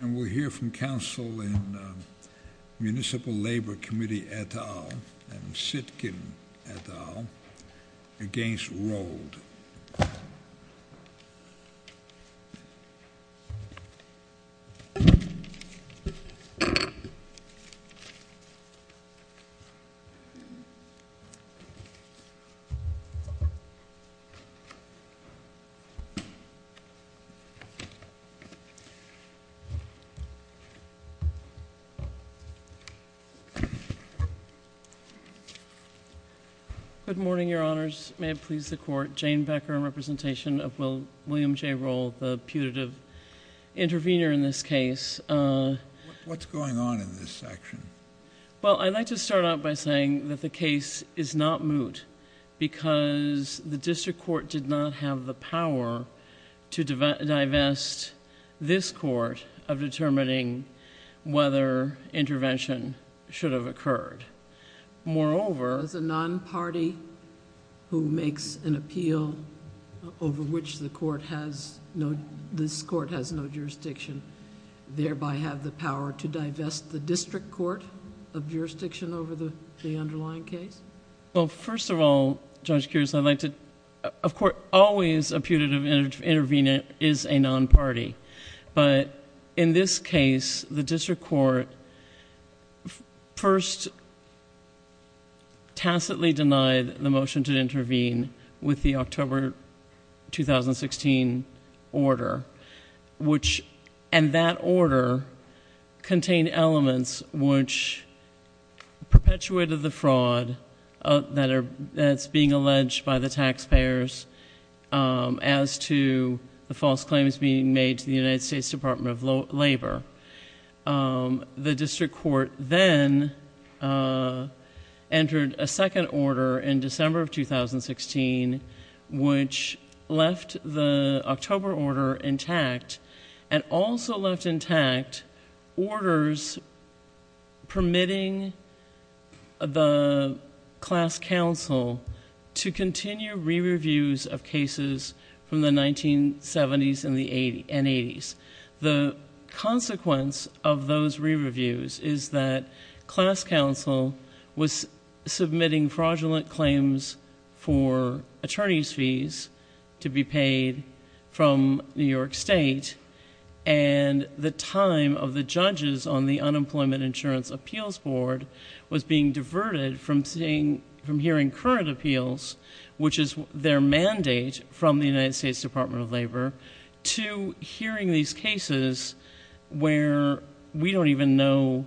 And we'll hear from counsel in Municipal Labor Committee et al. and Sitkin et al. against Rold. Good morning, Your Honors. May it please the Court, Jane Becker in representation of William J. Rold, the putative intervener in this case. What's going on in this section? Well, I'd like to start out by saying that the case is not moot because the district court did not have the power to divest this court of determining whether intervention should have occurred. Moreover... Does a non-party who makes an appeal over which this court has no jurisdiction thereby have the power to divest the district court of jurisdiction over the underlying case? Well, first of all, Judge Kears, I'd like to... Of course, always a putative intervener is a non-party. But in this case, the district court first tacitly denied the motion to intervene with the October 2016 order, which... The district court then entered a second order in December of 2016, which left the October order intact and also left intact orders permitting the class counsel to continue re-reviews of cases from the 1970s and the 1980s. The consequence of those re-reviews is that class counsel was submitting fraudulent claims for attorney's fees to be paid from New York State. And the time of the judges on the Unemployment Insurance Appeals Board was being diverted from hearing current appeals, which is their mandate from the United States Department of Labor, to hearing these cases where we don't even know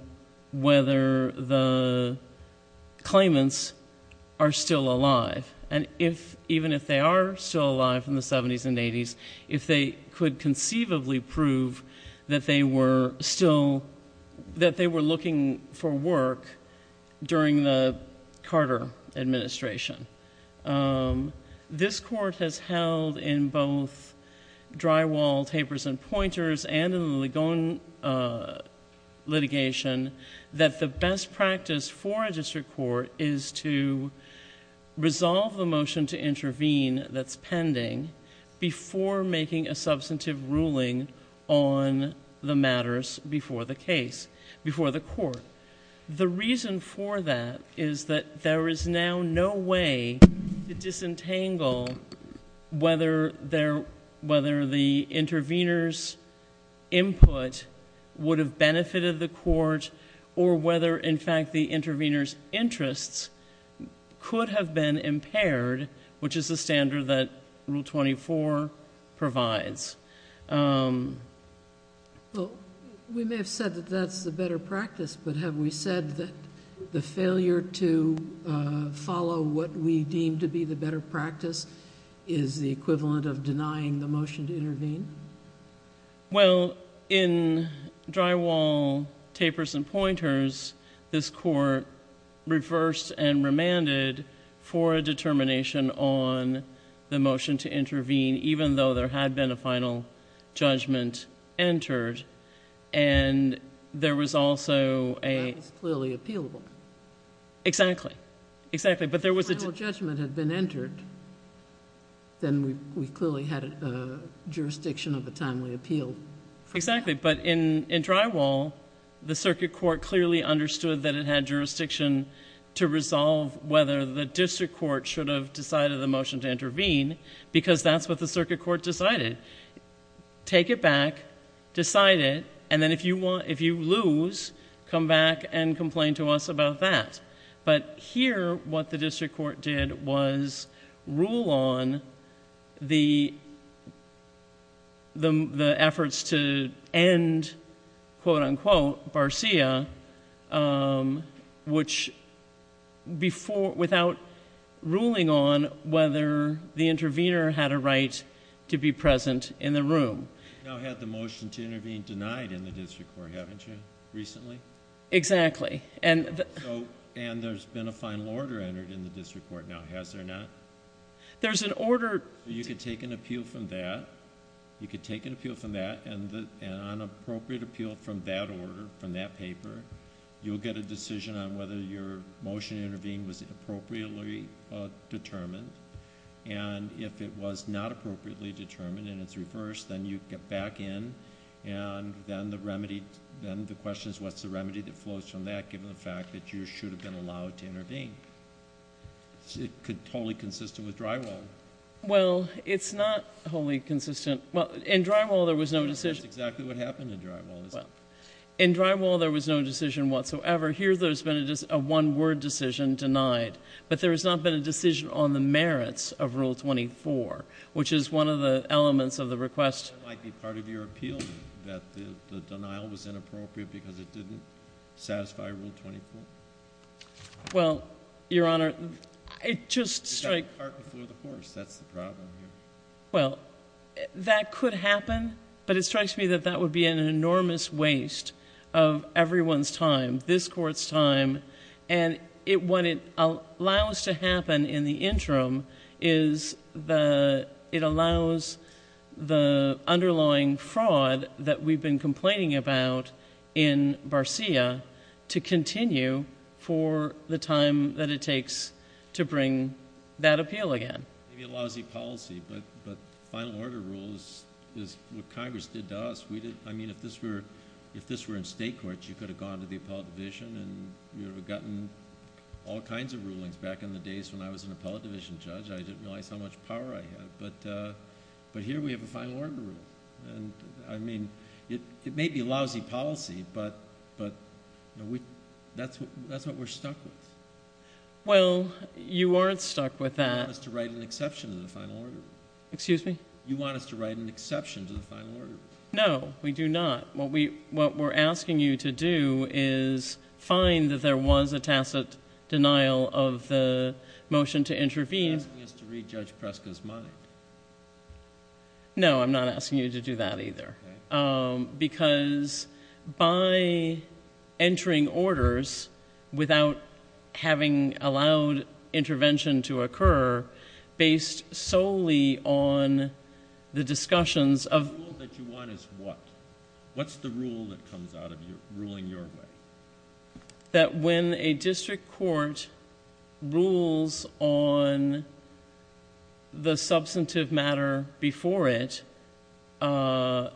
whether the claimants are still alive. And even if they are still alive in the 1970s and 1980s, if they could conceivably prove that they were still... that they were looking for work during the Carter administration. This court has held in both drywall, tapers and pointers, and in the Ligon litigation, that the best practice for a district court is to resolve the motion to intervene that's pending before making a substantive ruling on the matters before the court. The reason for that is that there is now no way to disentangle whether the intervener's input would have benefited the court or whether, in fact, the intervener's interests could have been impaired, which is the standard that Rule 24 provides. Well, we may have said that that's the better practice, but have we said that the failure to follow what we deem to be the better practice is the equivalent of denying the motion to intervene? Well, in drywall, tapers and pointers, this court reversed and remanded for a determination on the motion to intervene, even though there had been a final judgment entered. And there was also a... That was clearly appealable. Exactly. Exactly. But there was... Exactly. But in drywall, the circuit court clearly understood that it had jurisdiction to resolve whether the district court should have decided the motion to intervene because that's what the circuit court decided. Take it back, decide it, and then if you lose, come back and complain to us about that. But here, what the district court did was rule on the efforts to end, quote-unquote, Barcia without ruling on whether the intervener had a right to be present in the room. You now have the motion to intervene denied in the district court, haven't you, recently? Exactly. And there's been a final order entered in the district court now, has there not? There's an order... You could take an appeal from that. You could take an appeal from that, and on appropriate appeal from that order, from that paper, you'll get a decision on whether your motion to intervene was appropriately determined. And if it was not appropriately determined and it's reversed, then you get back in, and then the question is, what's the remedy that flows from that, given the fact that you should have been allowed to intervene? It's totally consistent with drywall. Well, it's not wholly consistent. Well, in drywall, there was no decision... That's exactly what happened in drywall, isn't it? In drywall, there was no decision whatsoever. Here, there's been a one-word decision denied, but there has not been a decision on the merits of Rule 24, which is one of the elements of the request... That might be part of your appeal, that the denial was inappropriate because it didn't satisfy Rule 24. Well, Your Honor, it just strikes... It's like a cart before the horse. That's the problem here. Well, that could happen, but it strikes me that that would be an enormous waste of everyone's time, this Court's time. And what it allows to happen in the interim is it allows the underlying fraud that we've been complaining about in Barcia to continue for the time that it takes to bring that appeal again. Maybe a lousy policy, but final order rules is what Congress did to us. I mean, if this were in state courts, you could have gone to the appellate division and you would have gotten all kinds of rulings. Back in the days when I was an appellate division judge, I didn't realize how much power I had, but here we have a final order rule. I mean, it may be a lousy policy, but that's what we're stuck with. Well, you aren't stuck with that. You want us to write an exception to the final order rule. Excuse me? You want us to write an exception to the final order rule. No, we do not. What we're asking you to do is find that there was a tacit denial of the motion to intervene... You're asking us to read Judge Preska's mind. No, I'm not asking you to do that either. Because by entering orders without having allowed intervention to occur, based solely on the discussions of... The rule that you want is what? What's the rule that comes out of ruling your way? That when a district court rules on the substantive matter before it, that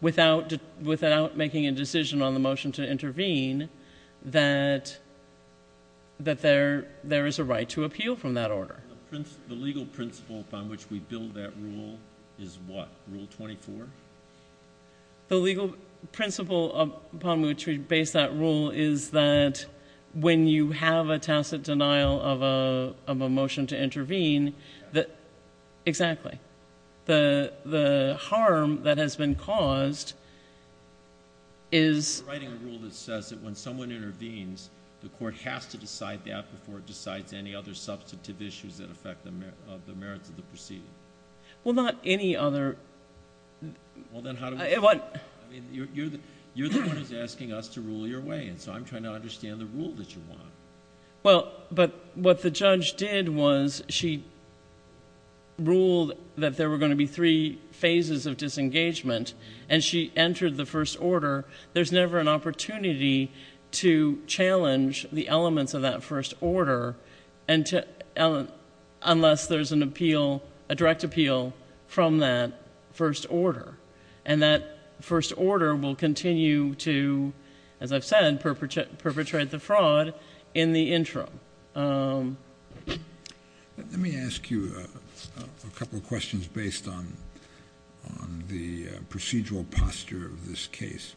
without making a decision on the motion to intervene, that there is a right to appeal from that order. The legal principle upon which we build that rule is what? Rule 24? The legal principle upon which we base that rule is that when you have a tacit denial of a motion to intervene... That... Exactly. The harm that has been caused is... You're writing a rule that says that when someone intervenes, the court has to decide that before it decides any other substantive issues that affect the merits of the proceeding. Well, not any other... Well, then how do we... You're the one who's asking us to rule your way, and so I'm trying to understand the rule that you want. Well, but what the judge did was she ruled that there were going to be three phases of disengagement, and she entered the first order. There's never an opportunity to challenge the elements of that first order unless there's a direct appeal from that first order. That first order will continue to, as I've said, perpetrate the fraud in the interim. Let me ask you a couple of questions based on the procedural posture of this case.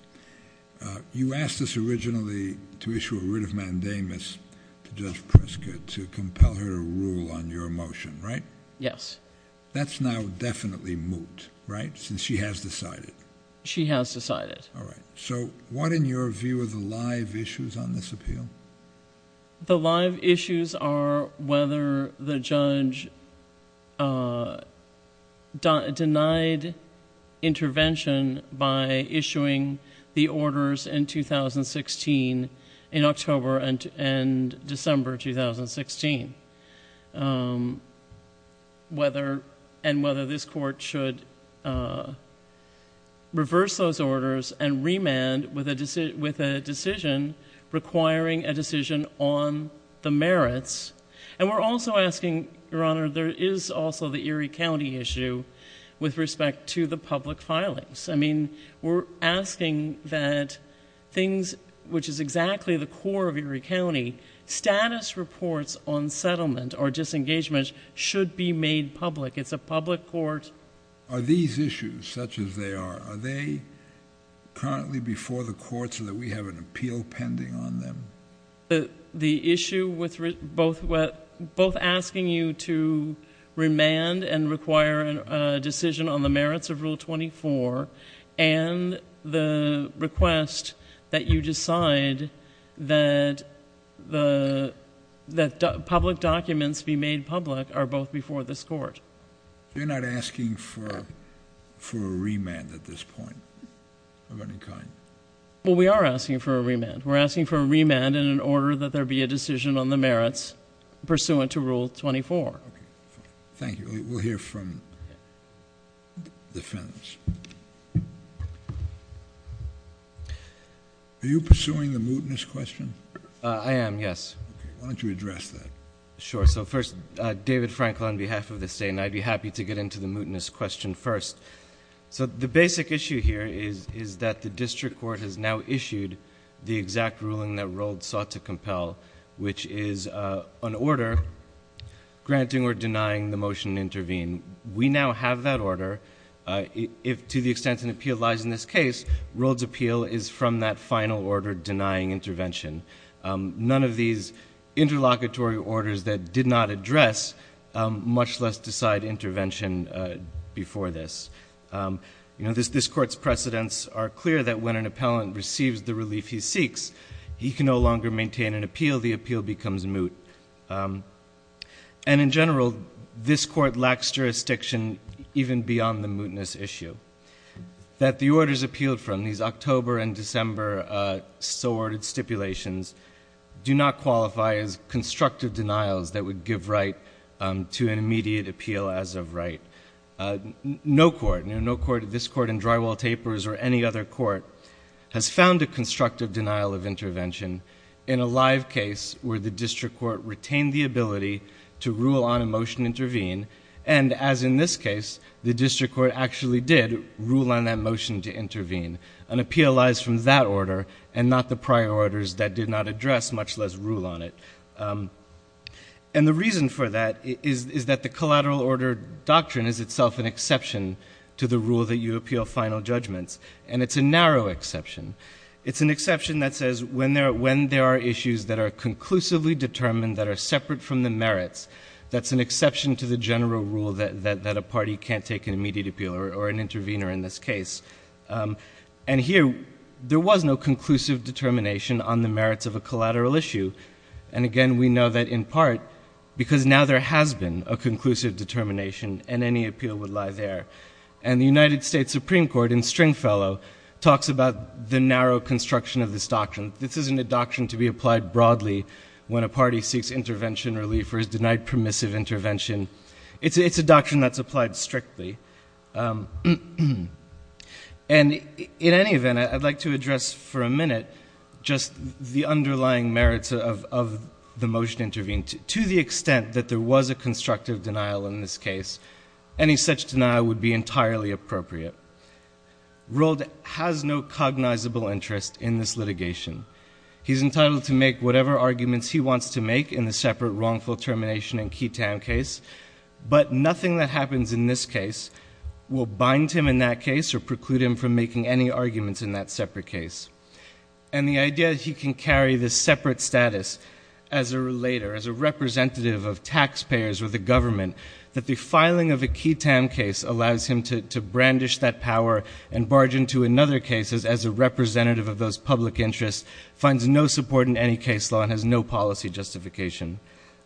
You asked us originally to issue a writ of mandamus to Judge Pritzker to compel her to rule on your motion, right? Yes. That's now definitely moot, right, since she has decided? She has decided. All right. So what, in your view, are the live issues on this appeal? The live issues are whether the judge denied intervention by issuing the orders in 2016, in October and December 2016, and whether this court should reverse those orders and remand with a decision requiring a decision on the merits. And we're also asking, Your Honor, there is also the Erie County issue with respect to the public filings. I mean, we're asking that things, which is exactly the core of Erie County, status reports on settlement or disengagement should be made public. It's a public court. Are these issues, such as they are, are they currently before the court so that we have an appeal pending on them? The issue with both asking you to remand and require a decision on the merits of Rule 24 and the request that you decide that public documents be made public are both before this court. You're not asking for a remand at this point of any kind? Well, we are asking for a remand. We're asking for a remand in an order that there be a decision on the merits pursuant to Rule 24. Thank you. We'll hear from the defense. Are you pursuing the mootness question? I am, yes. Why don't you address that? Sure. So first, David Frankel on behalf of the state, and I'd be happy to get into the mootness question first. So the basic issue here is that the district court has now issued the exact ruling that Rhoades sought to compel, which is an order granting or denying the motion to intervene. We now have that order. To the extent an appeal lies in this case, Rhoades' appeal is from that final order denying intervention. None of these interlocutory orders that did not address, much less decide intervention before this. You know, this court's precedents are clear that when an appellant receives the relief he seeks, he can no longer maintain an appeal. The appeal becomes moot. And in general, this court lacks jurisdiction even beyond the mootness issue. That the orders appealed from, these October and December so-ordered stipulations, do not qualify as constructive denials that would give right to an immediate appeal as of right. No court, no court, this court in Drywall Tapers or any other court, has found a constructive denial of intervention in a live case where the district court retained the ability to rule on a motion to intervene. And as in this case, the district court actually did rule on that motion to intervene. An appeal lies from that order and not the prior orders that did not address, much less rule on it. And the reason for that is that the collateral order doctrine is itself an exception to the rule that you appeal final judgments. And it's a narrow exception. It's an exception that says when there are issues that are conclusively determined that are separate from the merits, that's an exception to the general rule that a party can't take an immediate appeal or an intervener in this case. And here, there was no conclusive determination on the merits of a collateral issue. And again, we know that in part because now there has been a conclusive determination and any appeal would lie there. And the United States Supreme Court in Stringfellow talks about the narrow construction of this doctrine. This isn't a doctrine to be applied broadly when a party seeks intervention relief or is denied permissive intervention. It's a doctrine that's applied strictly. And in any event, I'd like to address for a minute just the underlying merits of the motion to intervene. To the extent that there was a constructive denial in this case, any such denial would be entirely appropriate. Rold has no cognizable interest in this litigation. He's entitled to make whatever arguments he wants to make in the separate wrongful termination and ketam case. But nothing that happens in this case will bind him in that case or preclude him from making any arguments in that separate case. And the idea that he can carry this separate status as a relator, as a representative of taxpayers or the government, that the filing of a ketam case allows him to brandish that power and barge into another case as a representative of those public interests, finds no support in any case law and has no policy justification.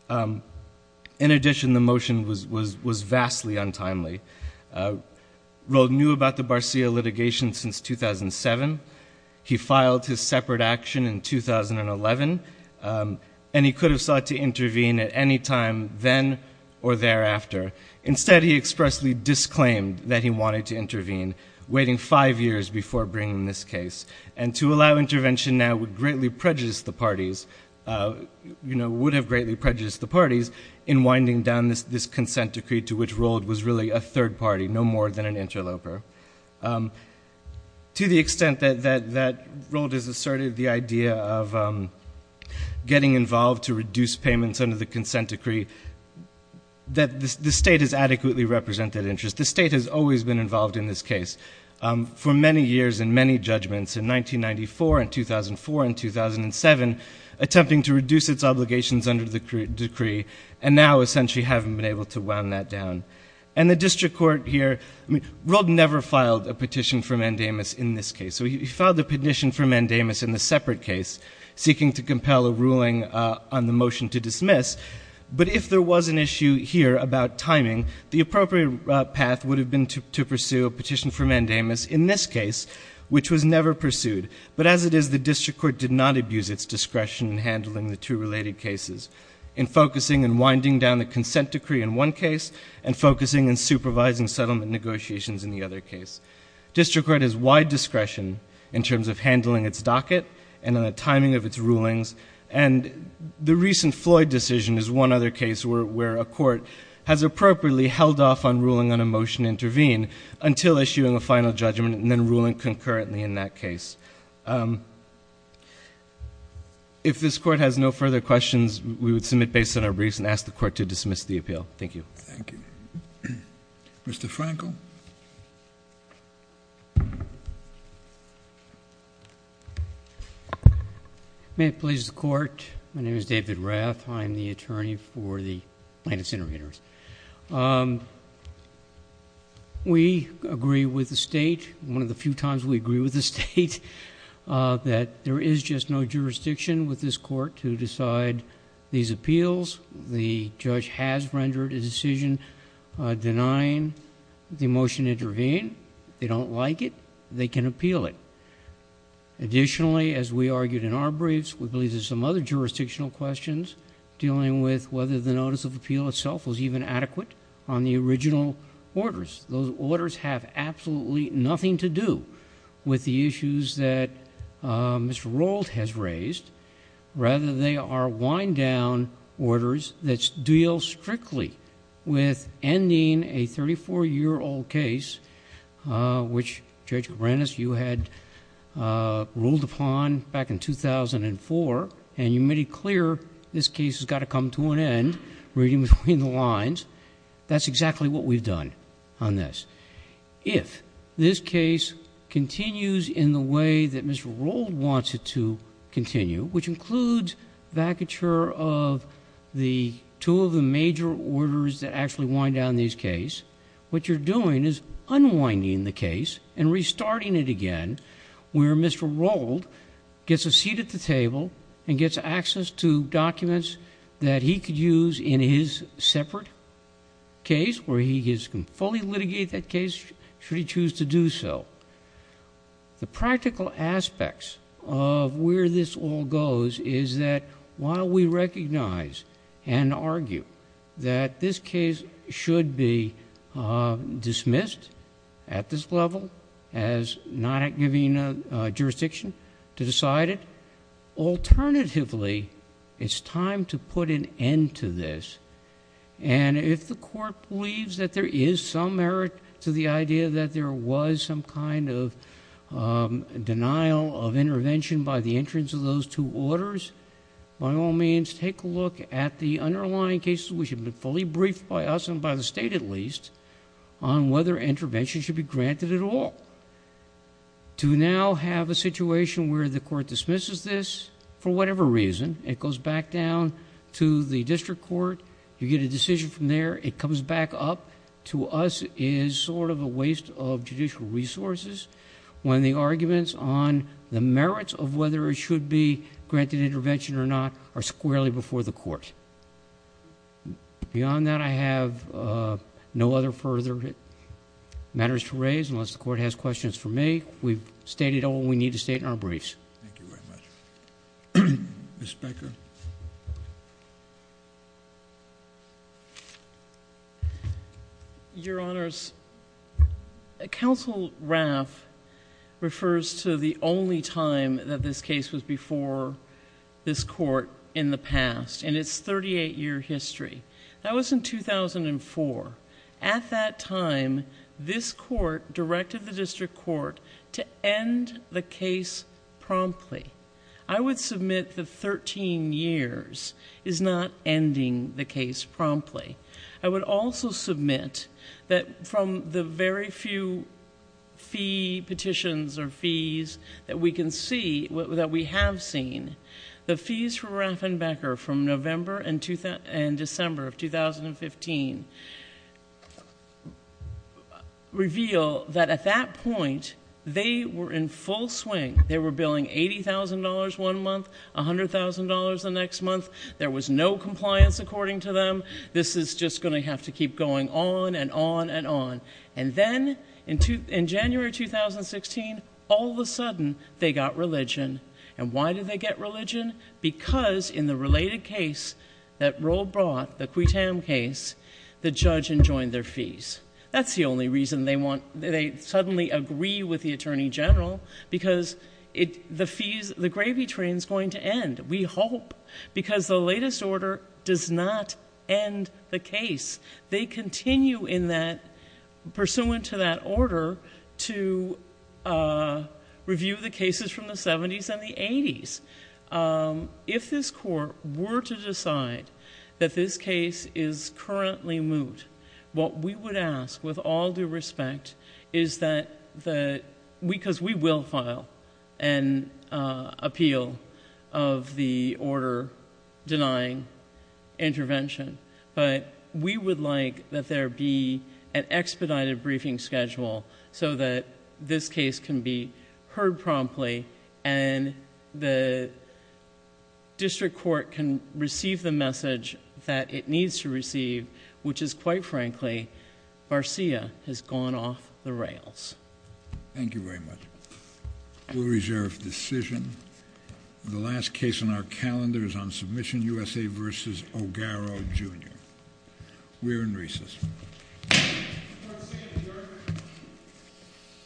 In addition, the motion was vastly untimely. Rold knew about the Barcia litigation since 2007. He filed his separate action in 2011. And he could have sought to intervene at any time then or thereafter. Instead, he expressly disclaimed that he wanted to intervene, waiting five years before bringing this case. And to allow intervention now would greatly prejudice the parties, would have greatly prejudiced the parties, in winding down this consent decree to which Rold was really a third party, no more than an interloper. To the extent that Rold has asserted the idea of getting involved to reduce payments under the consent decree, that the state has adequately represented interest. The state has always been involved in this case. For many years and many judgments in 1994 and 2004 and 2007, attempting to reduce its obligations under the decree, and now essentially haven't been able to wound that down. And the district court here, I mean, Rold never filed a petition for mandamus in this case. So he filed the petition for mandamus in the separate case, seeking to compel a ruling on the motion to dismiss. But if there was an issue here about timing, the appropriate path would have been to pursue a petition for mandamus in this case, which was never pursued. But as it is, the district court did not abuse its discretion in handling the two related cases. In focusing and winding down the consent decree in one case, and focusing and supervising settlement negotiations in the other case. District court has wide discretion in terms of handling its docket and in the timing of its rulings. And the recent Floyd decision is one other case where a court has appropriately held off on ruling on a motion to intervene, until issuing a final judgment and then ruling concurrently in that case. If this court has no further questions, we would submit based on our briefs and ask the court to dismiss the appeal. Thank you. Thank you. Mr. Frankel. May it please the court. My name is David Rath. I'm the attorney for the plaintiff's intervenors. We agree with the state. One of the few times we agree with the state. That there is just no jurisdiction with this court to decide these appeals. The judge has rendered a decision denying the motion to intervene. They don't like it. They can appeal it. Additionally, as we argued in our briefs, we believe there's some other jurisdictional questions dealing with whether the notice of appeal itself was even adequate on the original orders. Those orders have absolutely nothing to do with the issues that Mr. Rold has raised. Rather, they are wind-down orders that deal strictly with ending a 34-year-old case, which, Judge Cabranes, you had ruled upon back in 2004, and you made it clear this case has got to come to an end, reading between the lines. That's exactly what we've done. If this case continues in the way that Mr. Rold wants it to continue, which includes vacature of two of the major orders that actually wind down these cases, what you're doing is unwinding the case and restarting it again, where Mr. Rold gets a seat at the table and gets access to documents that he could use in his separate case where he can fully litigate that case should he choose to do so. The practical aspects of where this all goes is that while we recognize and argue that this case should be dismissed at this level as not giving a jurisdiction to decide it, alternatively, it's time to put an end to this. If the court believes that there is some merit to the idea that there was some kind of denial of intervention by the entrance of those two orders, by all means, take a look at the underlying cases, which have been fully briefed by us and by the State at least, on whether intervention should be granted at all. To now have a situation where the court dismisses this for whatever reason, it goes back down to the district court. You get a decision from there. It comes back up to us is sort of a waste of judicial resources when the arguments on the merits of whether it should be granted intervention or not are squarely before the court. Beyond that, I have no other further matters to raise unless the court has questions for me. We've stated all we need to state in our briefs. Thank you very much. Ms. Becker? Your Honors, Counsel Raff refers to the only time that this case was before this court in the past, in its 38-year history. That was in 2004. At that time, this court directed the district court to end the case promptly. I would submit the 13 years is not ending the case promptly. I would also submit that from the very few fee petitions or fees that we can see, that we have seen, the fees for Raff and Becker from November and December of 2015 reveal that at that point, they were in full swing. They were billing $80,000 one month, $100,000 the next month. There was no compliance according to them. This is just going to have to keep going on and on and on. Then, in January 2016, all of a sudden, they got religion. Why did they get religion? Because in the related case that Roe brought, the Cuitam case, the judge enjoined their fees. That's the only reason they suddenly agree with the Attorney General because the gravy train is going to end, we hope, because the latest order does not end the case. They continue in that, pursuant to that order, to review the cases from the 70s and the 80s. If this court were to decide that this case is currently moot, what we would ask, with all due respect, is that... because we will file an appeal of the order denying intervention, but we would like that there be an expedited briefing schedule so that this case can be heard promptly and the district court can receive the message that it needs to receive, which is, quite frankly, Garcia has gone off the rails. Thank you very much. We'll reserve the decision. The last case on our calendar is on Submission U.S.A. v. Ogarro, Jr. We're in recess.